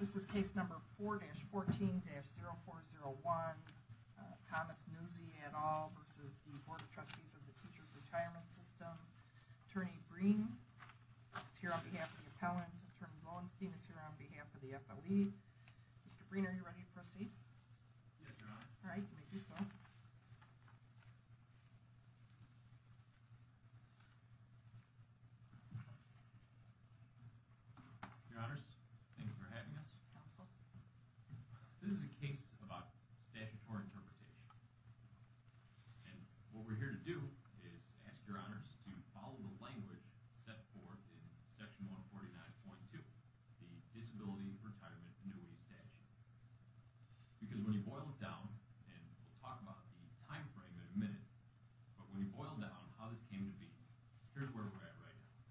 This is case number 4-14-0401, Thomas Nuzzi et al. v. The Board of Trustees of the Teachers' Retirement System. Attorney Breen is here on behalf of the appellant. Attorney Lowenstein is here on behalf of the FOE. Mr. Breen, are you ready to proceed? Yes, Your Honor. All right, you may do so. Your Honors, thank you for having us. Counsel. This is a case about statutory interpretation. And what we're here to do is ask Your Honors to follow the language set forth in Section 149.2, the Disability Retirement Annuity Statute. Because when you boil it down, and we'll talk about the time frame in a minute, but when you boil down how this came to be, here's where we're at right now.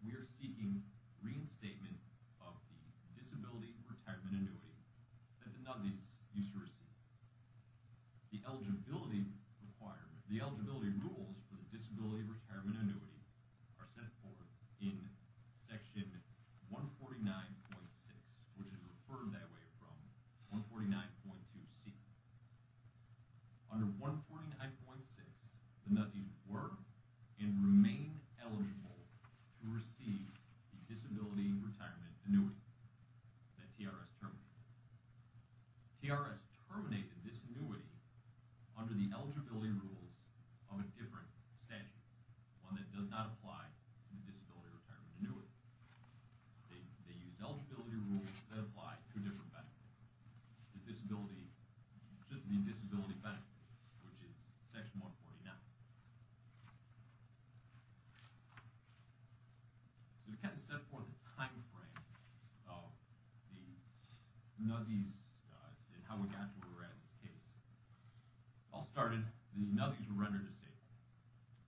We are seeking reinstatement of the Disability Retirement Annuity that the Nuzzis used to receive. The eligibility rules for the Disability Retirement Annuity are set forth in Section 149.6, which is referred that way from 149.2c. Under 149.6, the Nuzzis were and remain eligible to receive the Disability Retirement Annuity that TRS terminated. TRS terminated this annuity under the eligibility rules of a different statute, one that does not apply to the Disability Retirement Annuity. They used eligibility rules that apply to a different benefit. The Disability Benefit, which is Section 149. So to kind of set forth the time frame of the Nuzzis and how we got to where we're at in this case. It all started when the Nuzzis were rendered disabled.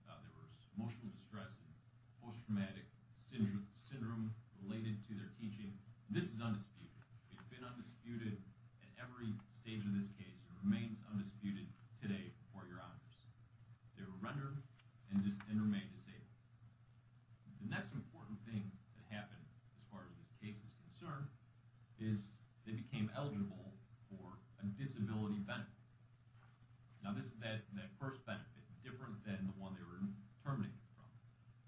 There was emotional distress and post-traumatic syndrome related to their teaching. This is undisputed. It's been undisputed at every stage of this case and remains undisputed today before Your Honors. They were rendered and remain disabled. The next important thing that happened as far as this case is concerned is they became eligible for a disability benefit. Now this is that first benefit, different than the one they were terminated from.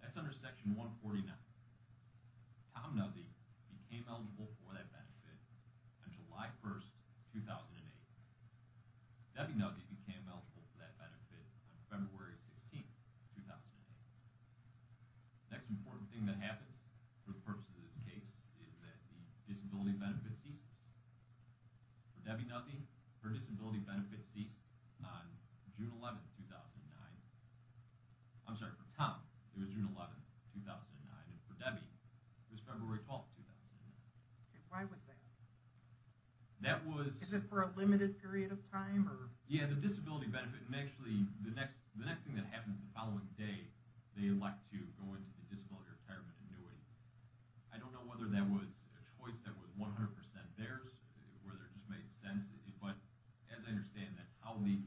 That's under Section 149. Tom Nuzzi became eligible for that benefit on July 1, 2008. Debbie Nuzzi became eligible for that benefit on February 16, 2008. The next important thing that happens for the purpose of this case is that the disability benefit ceases. For Debbie Nuzzi, her disability benefit ceased on June 11, 2009. I'm sorry, for Tom, it was June 11, 2009. And for Debbie, it was February 12, 2009. Why was that? Is it for a limited period of time? Yeah, the disability benefit. And actually, the next thing that happens the following day, they elect to go into the disability retirement annuity. I don't know whether that was a choice that was 100% theirs or whether it just made sense. But as I understand, that's how the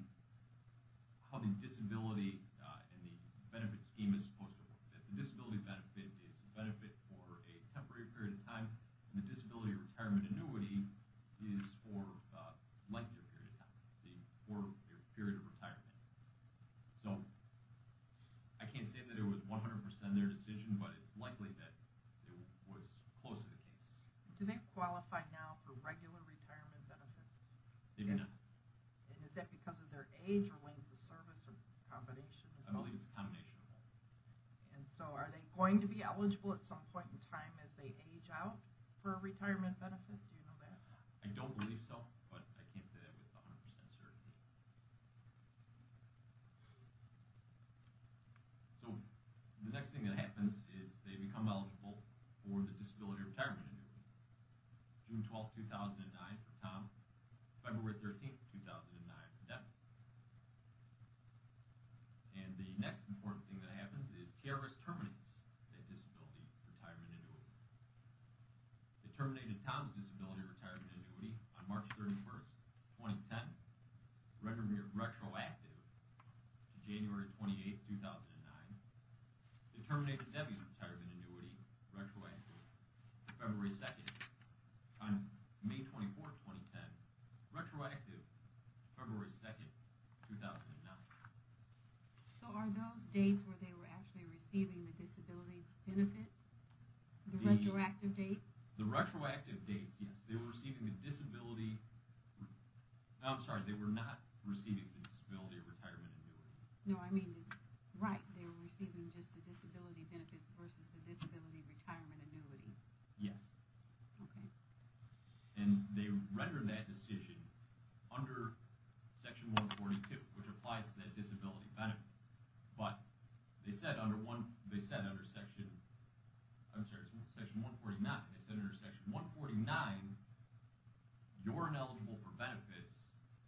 disability and the benefit scheme is supposed to work. The disability benefit is a benefit for a temporary period of time, and the disability retirement annuity is for a lengthier period of time, for a period of retirement. So I can't say that it was 100% their decision, but it's likely that it was close to the case. Do they qualify now for regular retirement benefit? They do not. And is that because of their age or length of service or combination? I believe it's a combination of both. And so are they going to be eligible at some point in time as they age out for a retirement benefit? Do you know that? I don't believe so, but I can't say that with 100% certainty. So the next thing that happens is they become eligible for the disability retirement annuity. June 12, 2009 for Tom, February 13, 2009 for Debbie. And the next important thing that happens is TRS terminates that disability retirement annuity. It terminated Tom's disability retirement annuity on March 31, 2010, retroactive to January 28, 2009. It terminated Debbie's retirement annuity, retroactive to February 2. On May 24, 2010, retroactive February 2, 2009. So are those dates where they were actually receiving the disability benefits? The retroactive date? The retroactive dates, yes. They were receiving the disability, I'm sorry, they were not receiving the disability retirement annuity. No, I mean, right, they were receiving just the disability benefits versus the disability retirement annuity. Yes. Okay. And they rendered that decision under Section 142, which applies to that disability benefit. But they said under Section 149, you're ineligible for benefits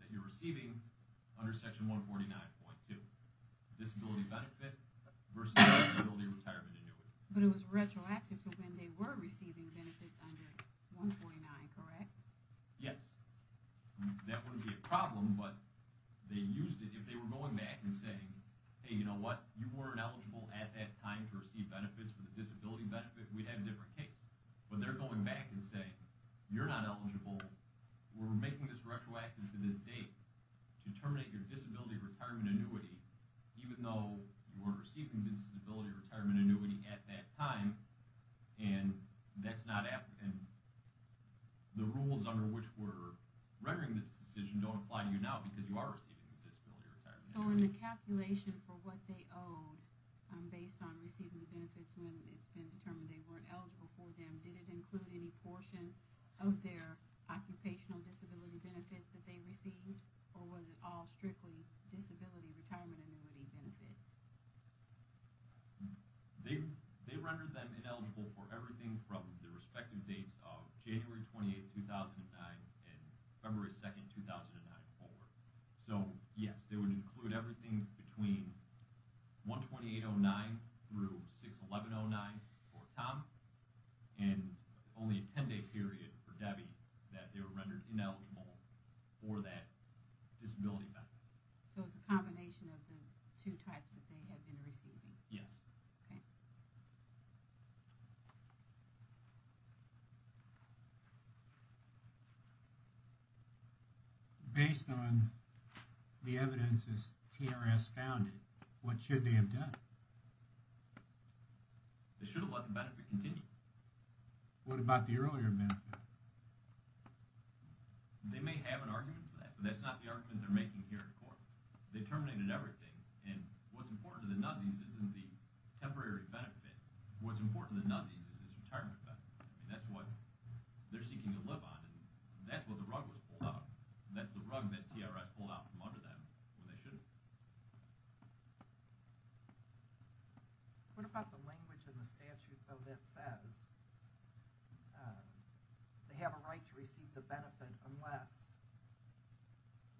that you're receiving under Section 149.2. Disability benefit versus disability retirement annuity. But it was retroactive to when they were receiving benefits under 149, correct? Yes. That wouldn't be a problem, but they used it, if they were going back and saying, hey, you know what, you weren't eligible at that time to receive benefits for the disability benefit, we'd have a different case. When they're going back and saying, you're not eligible, we're making this retroactive to this date to terminate your disability retirement annuity, even though you were receiving the disability retirement annuity at that time, and the rules under which we're rendering this decision don't apply to you now because you are receiving the disability retirement annuity. So in the calculation for what they owed based on receiving the benefits when it's been determined they weren't eligible for them, did it include any portion of their occupational disability benefits that they received, or was it all strictly disability retirement annuity benefits? They rendered them ineligible for everything from the respective dates of January 28, 2009, and February 2, 2009 forward. So, yes, they would include everything between 1-2809 through 6-1109 for Tom, and only a 10-day period for Debbie that they were rendered ineligible for that disability benefit. So it's a combination of the two types that they had been receiving? Yes. Based on the evidence that TRS found, what should they have done? They should have let the benefit continue. What about the earlier benefit? They may have an argument for that, but that's not the argument they're making here in court. They terminated everything, and what's important to the Nazis isn't the temporary benefit. What's important to the Nazis is this retirement benefit. That's what they're seeking to live on, and that's what the rug was pulled out. That's the rug that TRS pulled out from under them when they should have. What about the language in the statute, though, that says they have a right to receive the benefit unless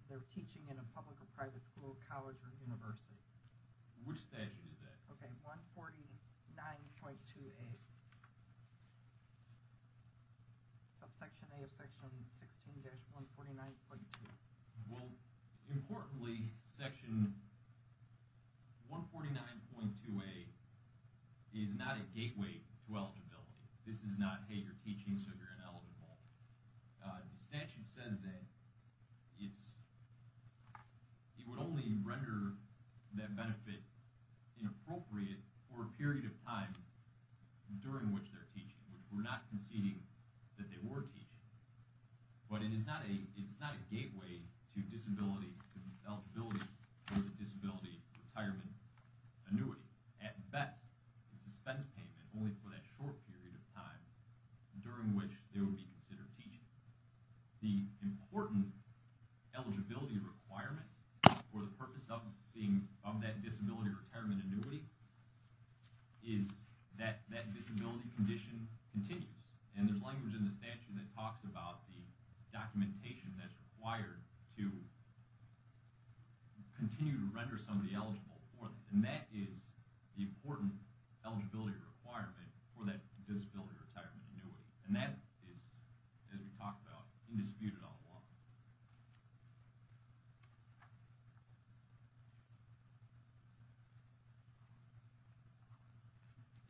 they're teaching in a public or private school, college, or university? Which statute is that? Okay, 149.2a, subsection a of section 16-149.2. Well, importantly, section 149.2a is not a gateway to eligibility. This is not, hey, you're teaching, so you're an eligible. The statute says that it would only render that benefit inappropriate for a period of time during which they're teaching, which we're not conceding that they were teaching. But it is not a gateway to eligibility for the disability retirement annuity. At best, it's a spense payment only for that short period of time during which they would be considered teaching. The important eligibility requirement for the purpose of that disability retirement annuity is that that disability condition continues. And there's language in the statute that talks about the documentation that's required to continue to render somebody eligible for that. And that is the important eligibility requirement for that disability retirement annuity. And that is, as we talked about, indisputed on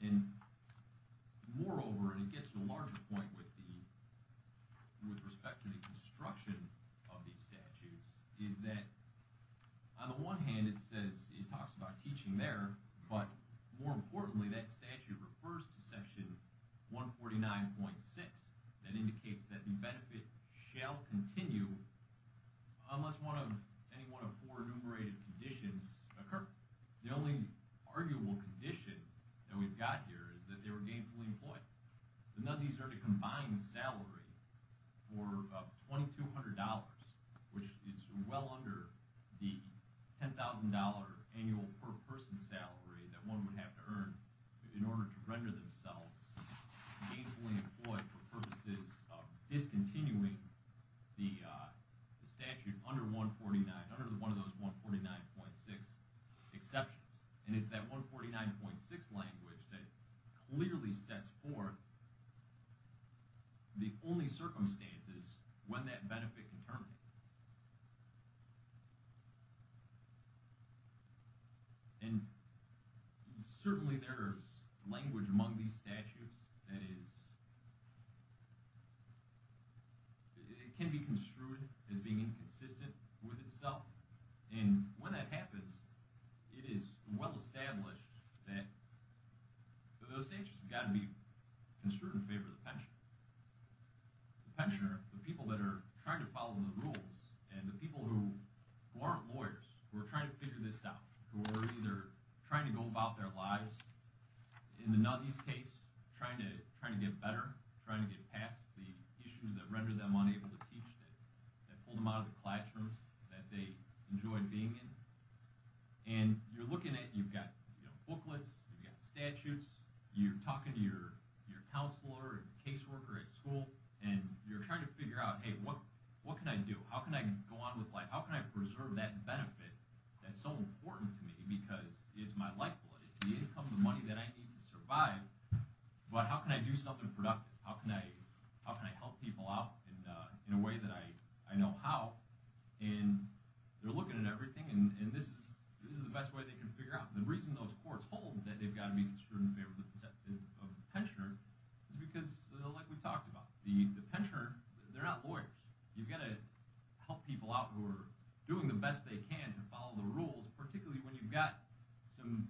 the law. And moreover, and it gets to a larger point with respect to the construction of these statutes, is that on the one hand, it says, it talks about teaching there, but more importantly, that statute refers to section 149.6 that indicates that the benefit shall continue unless any one of four enumerated conditions occur. The only arguable condition that we've got here is that they were gainfully employed. The Nazis earned a combined salary for $2,200, which is well under the $10,000 annual per person salary that one would have to earn in order to render themselves gainfully employed for purposes of discontinuing the statute under 149, under one of those 149.6 exceptions. And it's that 149.6 language that clearly sets forth the only circumstances when that benefit can terminate. And certainly there is language among these statutes that can be construed as being inconsistent with itself. And when that happens, it is well established that those statutes have got to be construed in favor of the pensioner. The pensioner, the people that are trying to follow the rules, and the people who aren't lawyers, who are trying to figure this out, who are either trying to go about their lives, in the Nazis' case, trying to get better, trying to get past the issues that rendered them unable to teach, that pulled them out of the classrooms that they enjoyed being in. And you're looking at, you've got booklets, you've got statutes, you're talking to your counselor and caseworker at school, and you're trying to figure out, hey, what can I do? How can I go on with life? How can I preserve that benefit that's so important to me, because it's my lifeblood, it's the income, the money that I need to survive, but how can I do something productive? How can I help people out in a way that I know how? And they're looking at everything, and this is the best way they can figure out. The reason those courts hold that they've got to be in favor of the pensioner is because, like we talked about, the pensioner, they're not lawyers. You've got to help people out who are doing the best they can to follow the rules, particularly when you've got some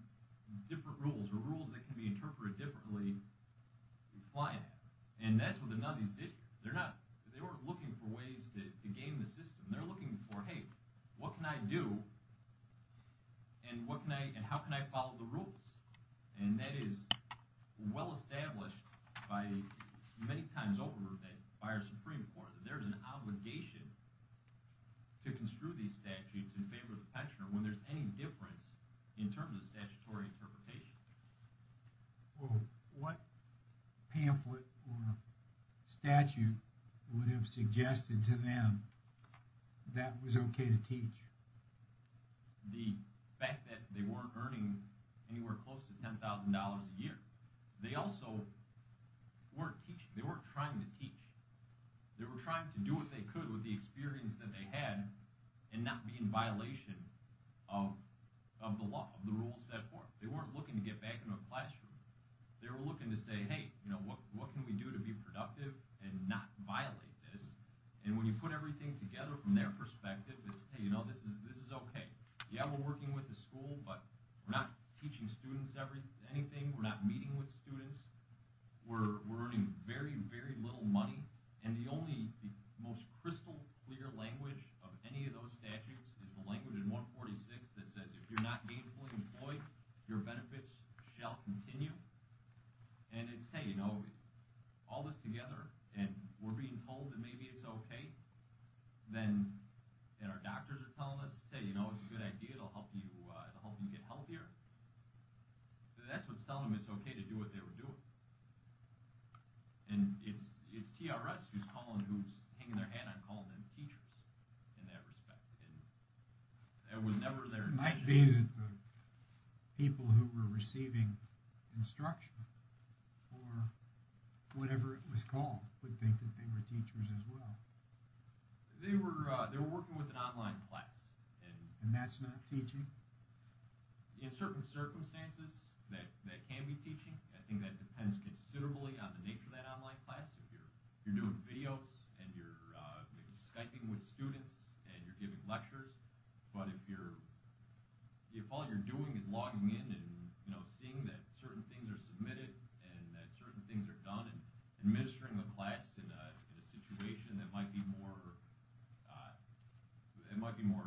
different rules, or rules that can be interpreted differently. And that's what the Nazis did. They weren't looking for ways to game the system. They're looking for, hey, what can I do, and how can I follow the rules? And that is well-established many times over by our Supreme Court, that there's an obligation to construe these statutes in favor of the pensioner when there's any difference in terms of statutory interpretation. Well, what pamphlet or statute would have suggested to them that was okay to teach? The fact that they weren't earning anywhere close to $10,000 a year. They also weren't teaching. They weren't trying to teach. They were trying to do what they could with the experience that they had and not be in violation of the law, of the rules set forth. They weren't looking to get back into a classroom. They were looking to say, hey, what can we do to be productive and not violate this? And when you put everything together from their perspective, it's, hey, this is okay. Yeah, we're working with the school, but we're not teaching students anything. We're not meeting with students. We're earning very, very little money. And the only most crystal clear language of any of those statutes is the language in 146 that says if you're not gainfully employed, your benefits shall continue. And it's, hey, you know, all this together, and we're being told that maybe it's okay, and our doctors are telling us, hey, you know, it's a good idea. It'll help you get healthier. That's what's telling them it's okay to do what they were doing. And it's TRS who's hanging their hat on calling them teachers in that respect. It might be the people who were receiving instruction or whatever it was called would think that they were teachers as well. They were working with an online class. And that's not teaching? In certain circumstances, that can be teaching. I think that depends considerably on the nature of that online class. If you're doing videos and you're maybe Skyping with students and you're giving lectures, but if all you're doing is logging in and seeing that certain things are submitted and that certain things are done and administering the class in a situation that might be more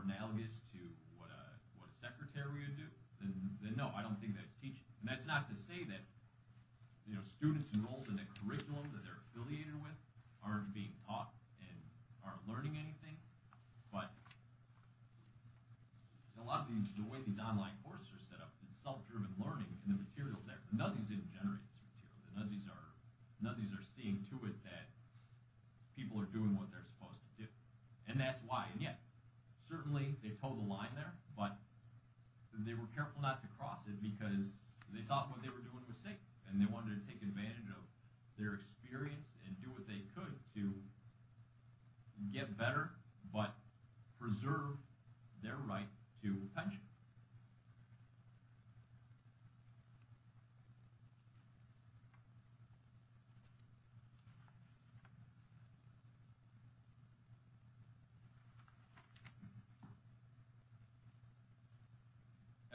analogous to what a secretary would do, then no, I don't think that's teaching. And that's not to say that students enrolled in a curriculum that they're affiliated with aren't being taught and aren't learning anything, but a lot of the way these online courses are set up, it's self-driven learning, and the material's there. The Nazis didn't generate this material. The Nazis are seeing to it that people are doing what they're supposed to do. And that's why. And yet, certainly they toe the line there, but they were careful not to cross it because they thought what they were doing was safe and they wanted to take advantage of their experience and do what they could to get better but preserve their right to pension.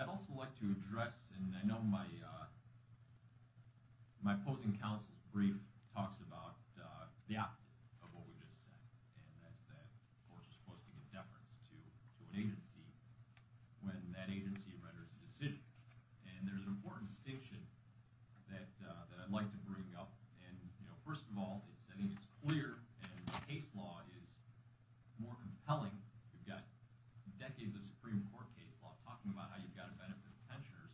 I'd also like to address, and I know my opposing counsel's brief talks about the opposite of what we just said, and that's that courts are supposed to give deference to an agency when that agency renders a decision. And there's an important distinction that I'd like to bring up. And, you know, first of all, I think it's clear, and case law is more compelling. You've got decades of Supreme Court case law talking about how you've got to benefit pensioners.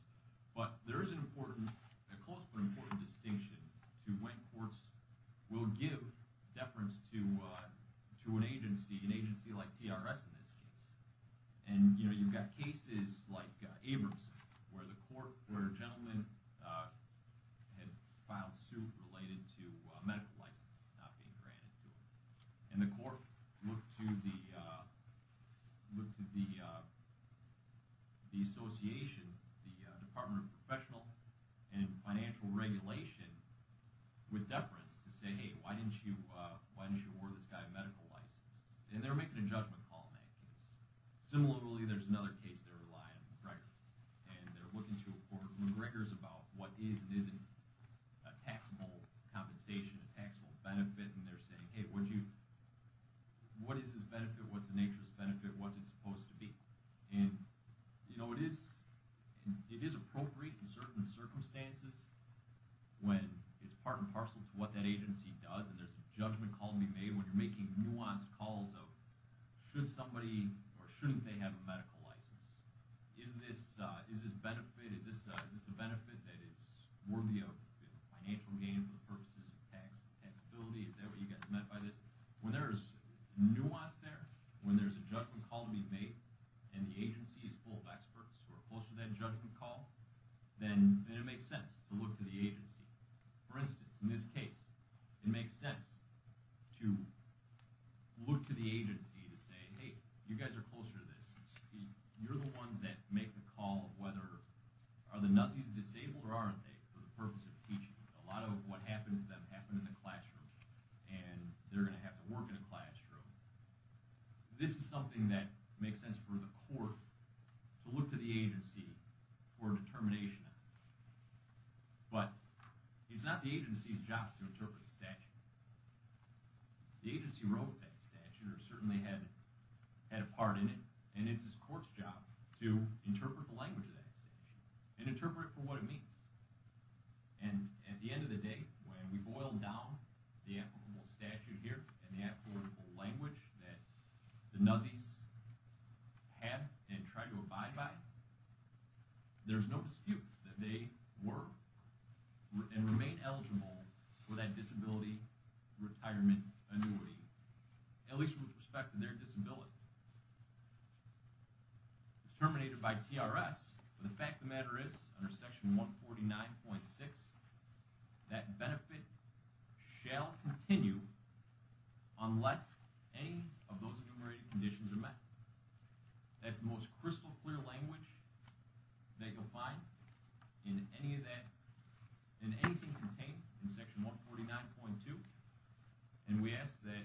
But there is an important, a close but important distinction to when courts will give deference to an agency, an agency like TRS in this case. And, you know, you've got cases like Abramson where the court, where a gentleman had filed suit related to a medical license not being granted to him. And the court looked to the association, the Department of Professional and Financial Regulation, with deference to say, hey, why didn't you award this guy a medical license? And they're making a judgment call in that case. Similarly, there's another case they're relying on McGregor. And they're looking to a court of McGregor's about what is and isn't a taxable compensation, a taxable benefit, and they're saying, hey, what is this benefit? What's the nature of this benefit? What's it supposed to be? And, you know, it is appropriate in certain circumstances when it's part and parcel to what that agency does, and there's a judgment call to be made when you're making nuanced calls of should somebody or shouldn't they have a medical license? Is this a benefit that is worthy of financial gain for the purposes of taxability? Is that what you guys meant by this? When there's nuance there, when there's a judgment call to be made, and the agency is full of experts who are close to that judgment call, then it makes sense to look to the agency. For instance, in this case, it makes sense to look to the agency to say, hey, you guys are closer to this. You're the ones that make the call of whether are the Nazis disabled or aren't they for the purpose of teaching? A lot of what happened to them happened in the classroom, and they're going to have to work in a classroom. This is something that makes sense for the court to look to the agency for a determination. But it's not the agency's job to interpret the statute. The agency wrote that statute or certainly had a part in it, and it's the court's job to interpret the language of that statute and interpret it for what it means. And at the end of the day, when we boil down the applicable statute here and the applicable language that the Nazis had and tried to abide by, there's no dispute that they were and remain eligible for that disability retirement annuity, at least with respect to their disability. It was terminated by TRS, but the fact of the matter is, under Section 149.6, that benefit shall continue unless any of those enumerated conditions are met. That's the most crystal clear language that you'll find in anything contained in Section 149.2, and we ask that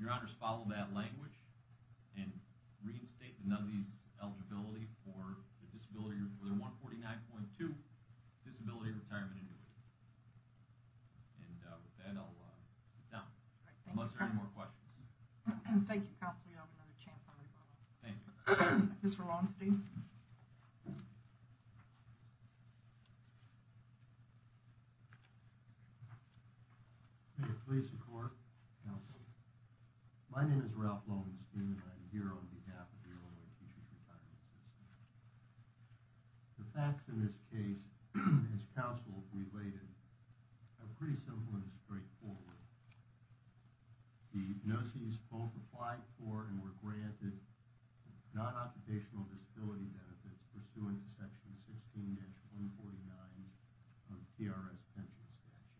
your honors follow that language and reinstate the Nazis' eligibility for their 149.2 disability retirement annuity. And with that, I'll sit down unless there are any more questions. Thank you, counsel. You'll have another chance on referral. Thank you. Mr. Longstein. Thank you. Please support, counsel. My name is Ralph Longstein, and I am here on behalf of the Illinois Teachers Retirement System. The facts in this case, as counsel related, are pretty simple and straightforward. The Nazis both applied for and were granted non-occupational disability benefits pursuant to Section 16-149 of the TRS pension statute.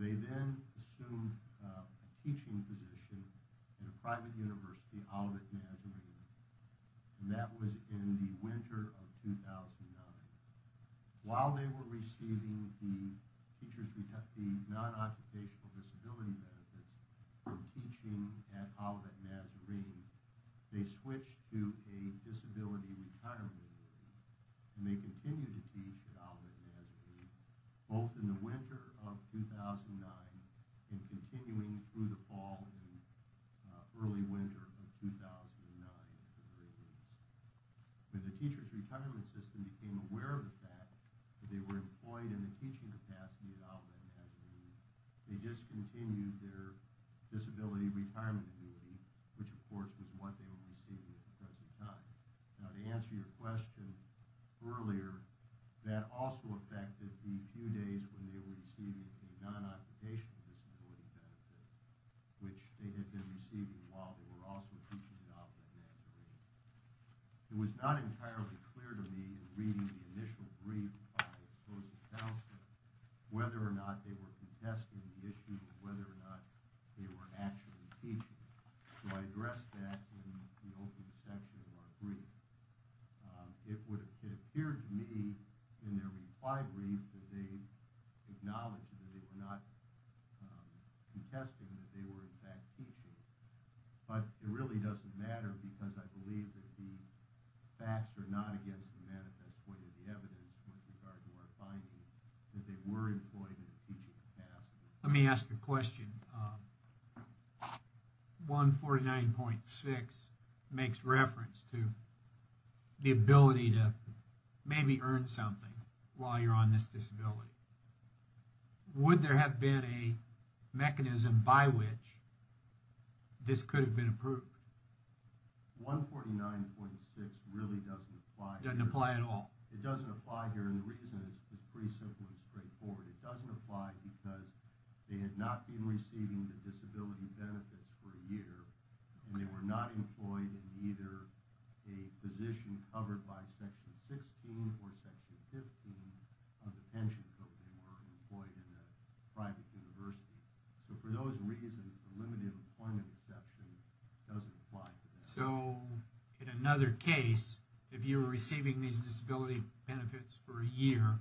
They then assumed a teaching position in a private university out at Nazarene, and that was in the winter of 2009. While they were receiving the non-occupational disability benefits from teaching out at Nazarene, they switched to a disability retirement program, and they continued to teach out at Nazarene both in the winter of 2009 and continuing through the fall and early winter of 2009. When the Teachers Retirement System became aware of the fact that they were employed in a teaching capacity out at Nazarene, they discontinued their disability retirement annuity, which, of course, was what they were receiving at the present time. Now, to answer your question earlier, that also affected the few days when they were receiving the non-occupational disability benefits, which they had been receiving while they were also teaching out at Nazarene. It was not entirely clear to me, in reading the initial brief by opposing counsel, whether or not they were contesting the issue of whether or not they were actually teaching. So I addressed that in the opening section of our brief. It appeared to me in their reply brief that they acknowledged that they were not contesting that they were in fact teaching, but it really doesn't matter because I believe that the facts are not against the manifest point of the evidence with regard to our finding that they were employed in a teaching capacity. Let me ask you a question. 149.6 makes reference to the ability to maybe earn something while you're on this disability. Would there have been a mechanism by which this could have been approved? 149.6 really doesn't apply here. Doesn't apply at all. It doesn't apply here, and the reason is pretty simple and straightforward. It doesn't apply because they had not been receiving the disability benefits for a year and they were not employed in either a position covered by Section 16 or Section 15 of the pension code. They were employed in a private university. So for those reasons, the limited employment exception doesn't apply to that. So in another case, if you were receiving these disability benefits for a year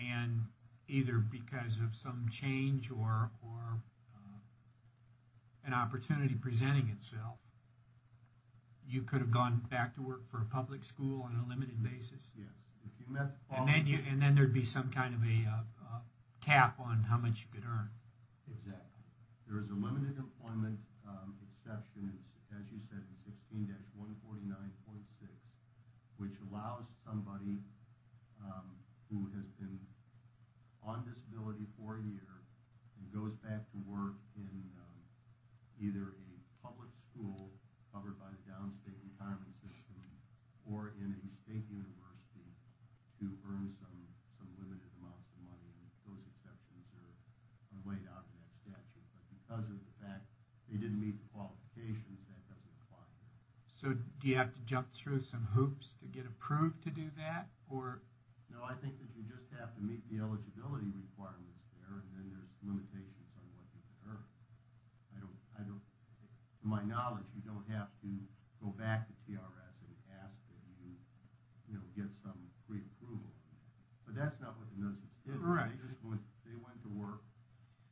and either because of some change or an opportunity presenting itself, you could have gone back to work for a public school on a limited basis? Yes. And then there would be some kind of a cap on how much you could earn. Exactly. There is a limited employment exception, as you said, in 16-149.6, which allows somebody who has been on disability for a year and goes back to work in either a public school covered by the downstate retirement system or in a state university to earn some limited amounts of money, and those exceptions are laid out in that statute. But because of the fact they didn't meet the qualifications, that doesn't apply here. So do you have to jump through some hoops to get approved to do that? No, I think that you just have to meet the eligibility requirements there, and then there's limitations on what you can earn. To my knowledge, you don't have to go back to TRS and ask that you get some pre-approval. But that's not what the nuisance did. They went to work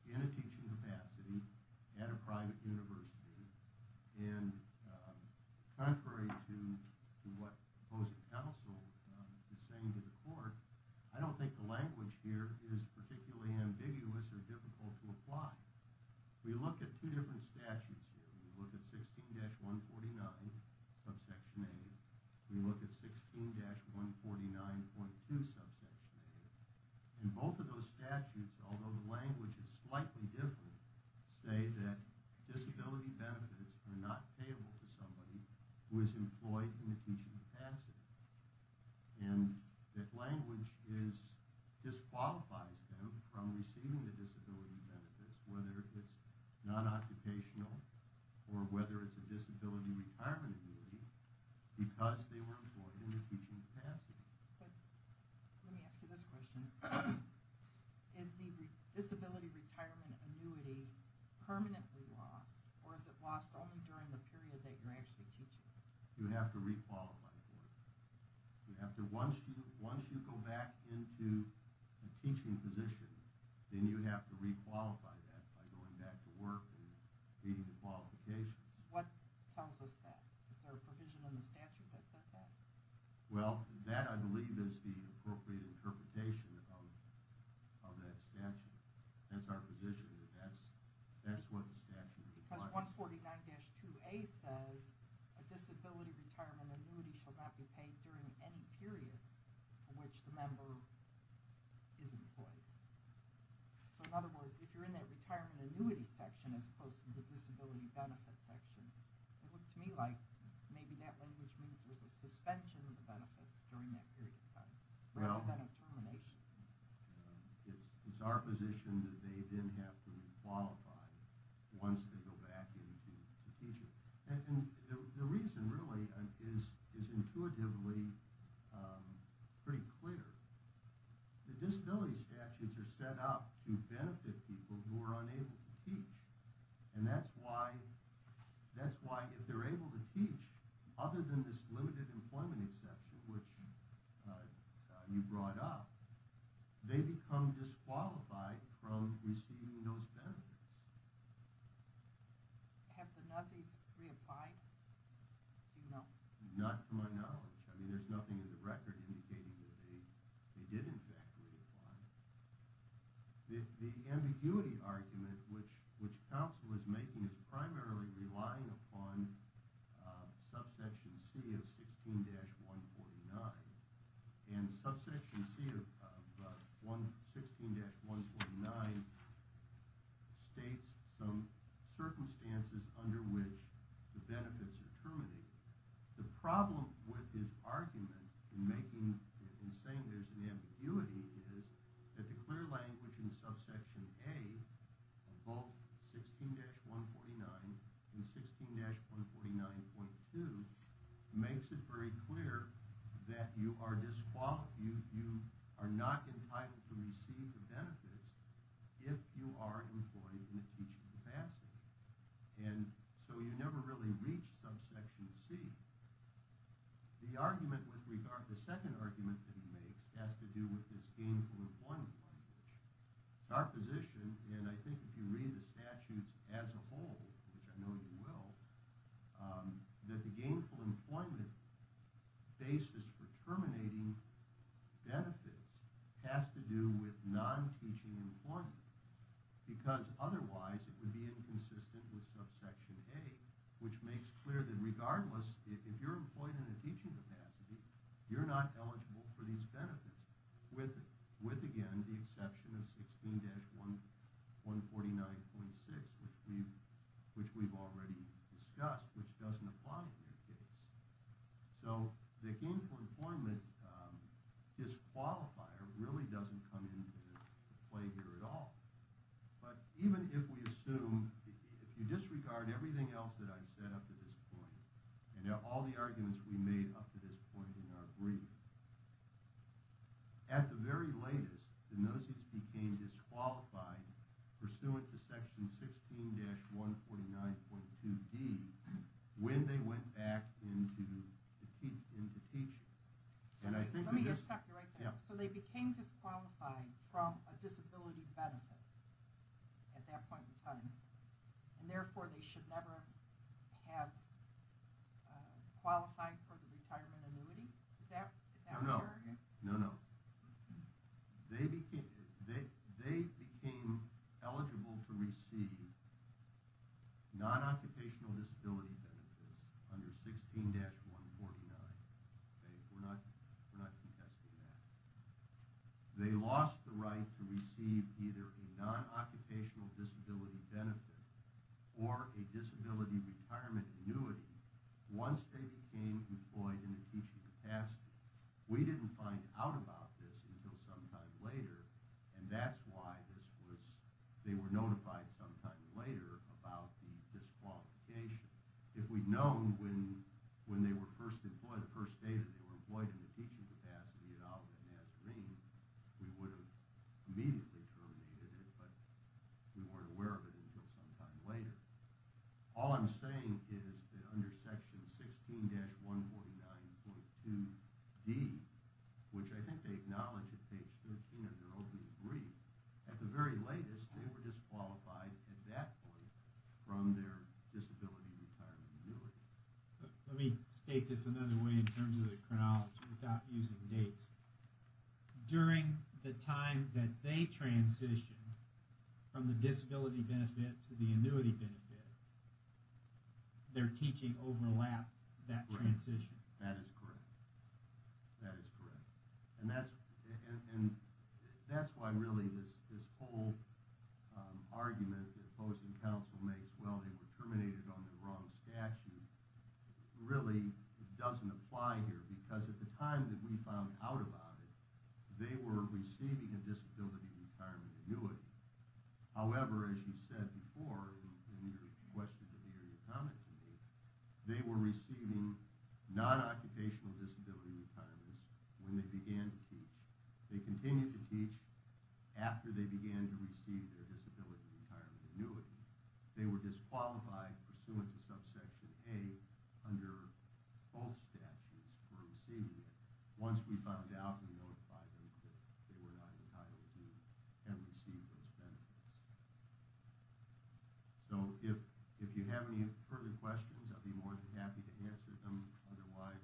in a teaching capacity at a private university and contrary to what the opposing counsel is saying to the court, I don't think the language here is particularly ambiguous or difficult to apply. We look at two different statutes here. We look at 16-149, subsection A. We look at 16-149.2, subsection A. And both of those statutes, although the language is slightly different, say that disability benefits are not payable to somebody who is employed in a teaching capacity. And that language disqualifies them from receiving the disability benefits, whether it's non-occupational or whether it's a disability retirement annuity, because they were employed in a teaching capacity. Let me ask you this question. Is the disability retirement annuity permanently lost, or is it lost only during the period that you're actually teaching? You have to re-qualify for it. Once you go back into a teaching position, then you have to re-qualify that by going back to work and meeting the qualifications. What tells us that? Is there a provision in the statute that says that? Well, that, I believe, is the appropriate interpretation of that statute. That's our position. That's what the statute requires. Because 149-2A says a disability retirement annuity shall not be paid during any period for which the member is employed. So, in other words, if you're in that retirement annuity section as opposed to the disability benefit section, it looks to me like maybe that language means there's a suspension of the benefits during that period of time rather than a termination. It's our position that they then have to re-qualify once they go back into teaching. And the reason, really, is intuitively pretty clear. The disability statutes are set up to benefit people who are unable to teach. And that's why, if they're able to teach, other than this limited employment exception, which you brought up, they become disqualified from receiving those benefits. Have the Nazis reapplied? Do you know? Not to my knowledge. I mean, there's nothing in the record indicating that they did, in fact, reapply. The ambiguity argument which counsel is making is primarily relying upon subsection C of 16-149. And subsection C of 16-149 states some circumstances under which the benefits are terminated. The problem with his argument in saying there's an ambiguity is that the clear language in subsection A of both 16-149 and 16-149.2 makes it very clear that you are not entitled to receive the benefits if you are employed in a teaching capacity. And so you never really reach subsection C. The second argument that he makes has to do with this gainful employment language. It's our position, and I think if you read the statutes as a whole, which I know you will, that the gainful employment basis for terminating benefits has to do with non-teaching employment. Because otherwise it would be inconsistent with subsection A, which makes clear that regardless, if you're employed in a teaching capacity, you're not eligible for these benefits. With, again, the exception of 16-149.6, which we've already discussed, which doesn't apply in this case. So the gainful employment disqualifier really doesn't come into play here at all. But even if we assume, if you disregard everything else that I've said up to this point, and all the arguments we've made up to this point in our brief, at the very latest, the noses became disqualified pursuant to section 16-149.2d when they went back into teaching. Let me just stop you right there. So they became disqualified from a disability benefit at that point in time, and therefore they should never have qualified for the retirement annuity? No, no. They became eligible to receive non-occupational disability benefits under 16-149. We're not contesting that. They lost the right to receive either a non-occupational disability benefit or a disability retirement annuity once they became employed in a teaching capacity. We didn't find out about this until some time later, and that's why they were notified some time later about the disqualification. If we'd known when they were first employed, the first day that they were employed in the teaching capacity at Auburn and Nazarene, we would have immediately terminated it, but we weren't aware of it until some time later. All I'm saying is that under section 16-149.2d, which I think they acknowledge at page 13 of their opening brief, at the very latest they were disqualified at that point from their disability retirement annuity. Let me state this another way in terms of the chronology without using dates. During the time that they transitioned from the disability benefit to the annuity benefit, their teaching overlapped that transition. That is correct. And that's why really this whole argument that opposing counsel makes, well, they were terminated on the wrong statute, really doesn't apply here, because at the time that we found out about it, they were receiving a disability retirement annuity. However, as you said before in your question to me or your comment to me, they were receiving non-occupational disability retirements when they began to teach. They continued to teach after they began to receive their disability retirement annuity. They were disqualified pursuant to subsection A under both statutes for receiving it once we found out and notified them that they were not entitled to and received those benefits. So if you have any further questions, I'd be more than happy to answer them. Otherwise,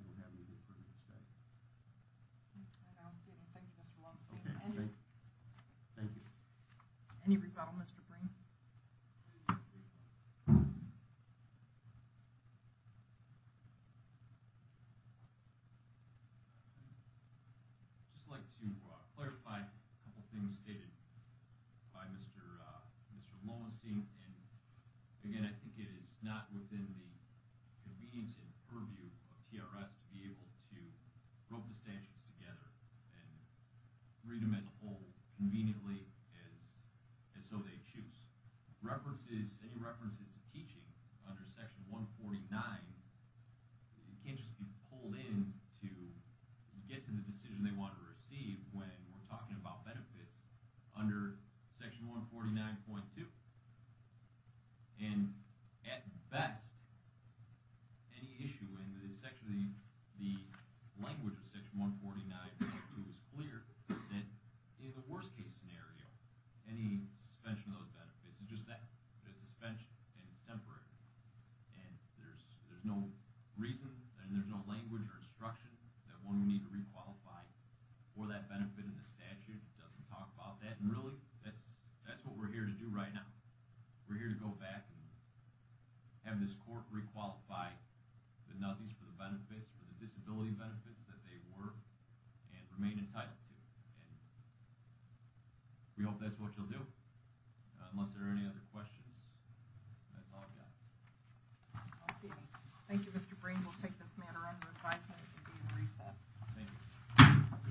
I don't have anything further to say. I don't see anything, Mr. Walmsley. Thank you. Any rebuttal, Mr. Breen? I'd just like to clarify a couple of things stated by Mr. Lowenstein. Again, I think it is not within the convenience and purview of TRS to be able to rope the statutes together and read them as a whole conveniently as so they choose. Any references to teaching under section 149 can't just be pulled in to get to the decision they want to receive when we're talking about benefits under section 149.2. And at best, any issue in the language of section 149.2 is clear that in the worst case scenario, any suspension of those benefits is just that. There's a suspension and it's temporary. And there's no reason and there's no language or instruction that one would need to requalify for that benefit in the statute. It doesn't talk about that. And really, that's what we're here to do right now. We're here to go back and have this court requalify the NAZIs for the benefits, for the disability benefits that they were and remain entitled to. And we hope that's what you'll do. Unless there are any other questions, that's all I've got. I don't see any. Thank you, Mr. Breen. We'll take this matter under advisement and be in recess. Thank you.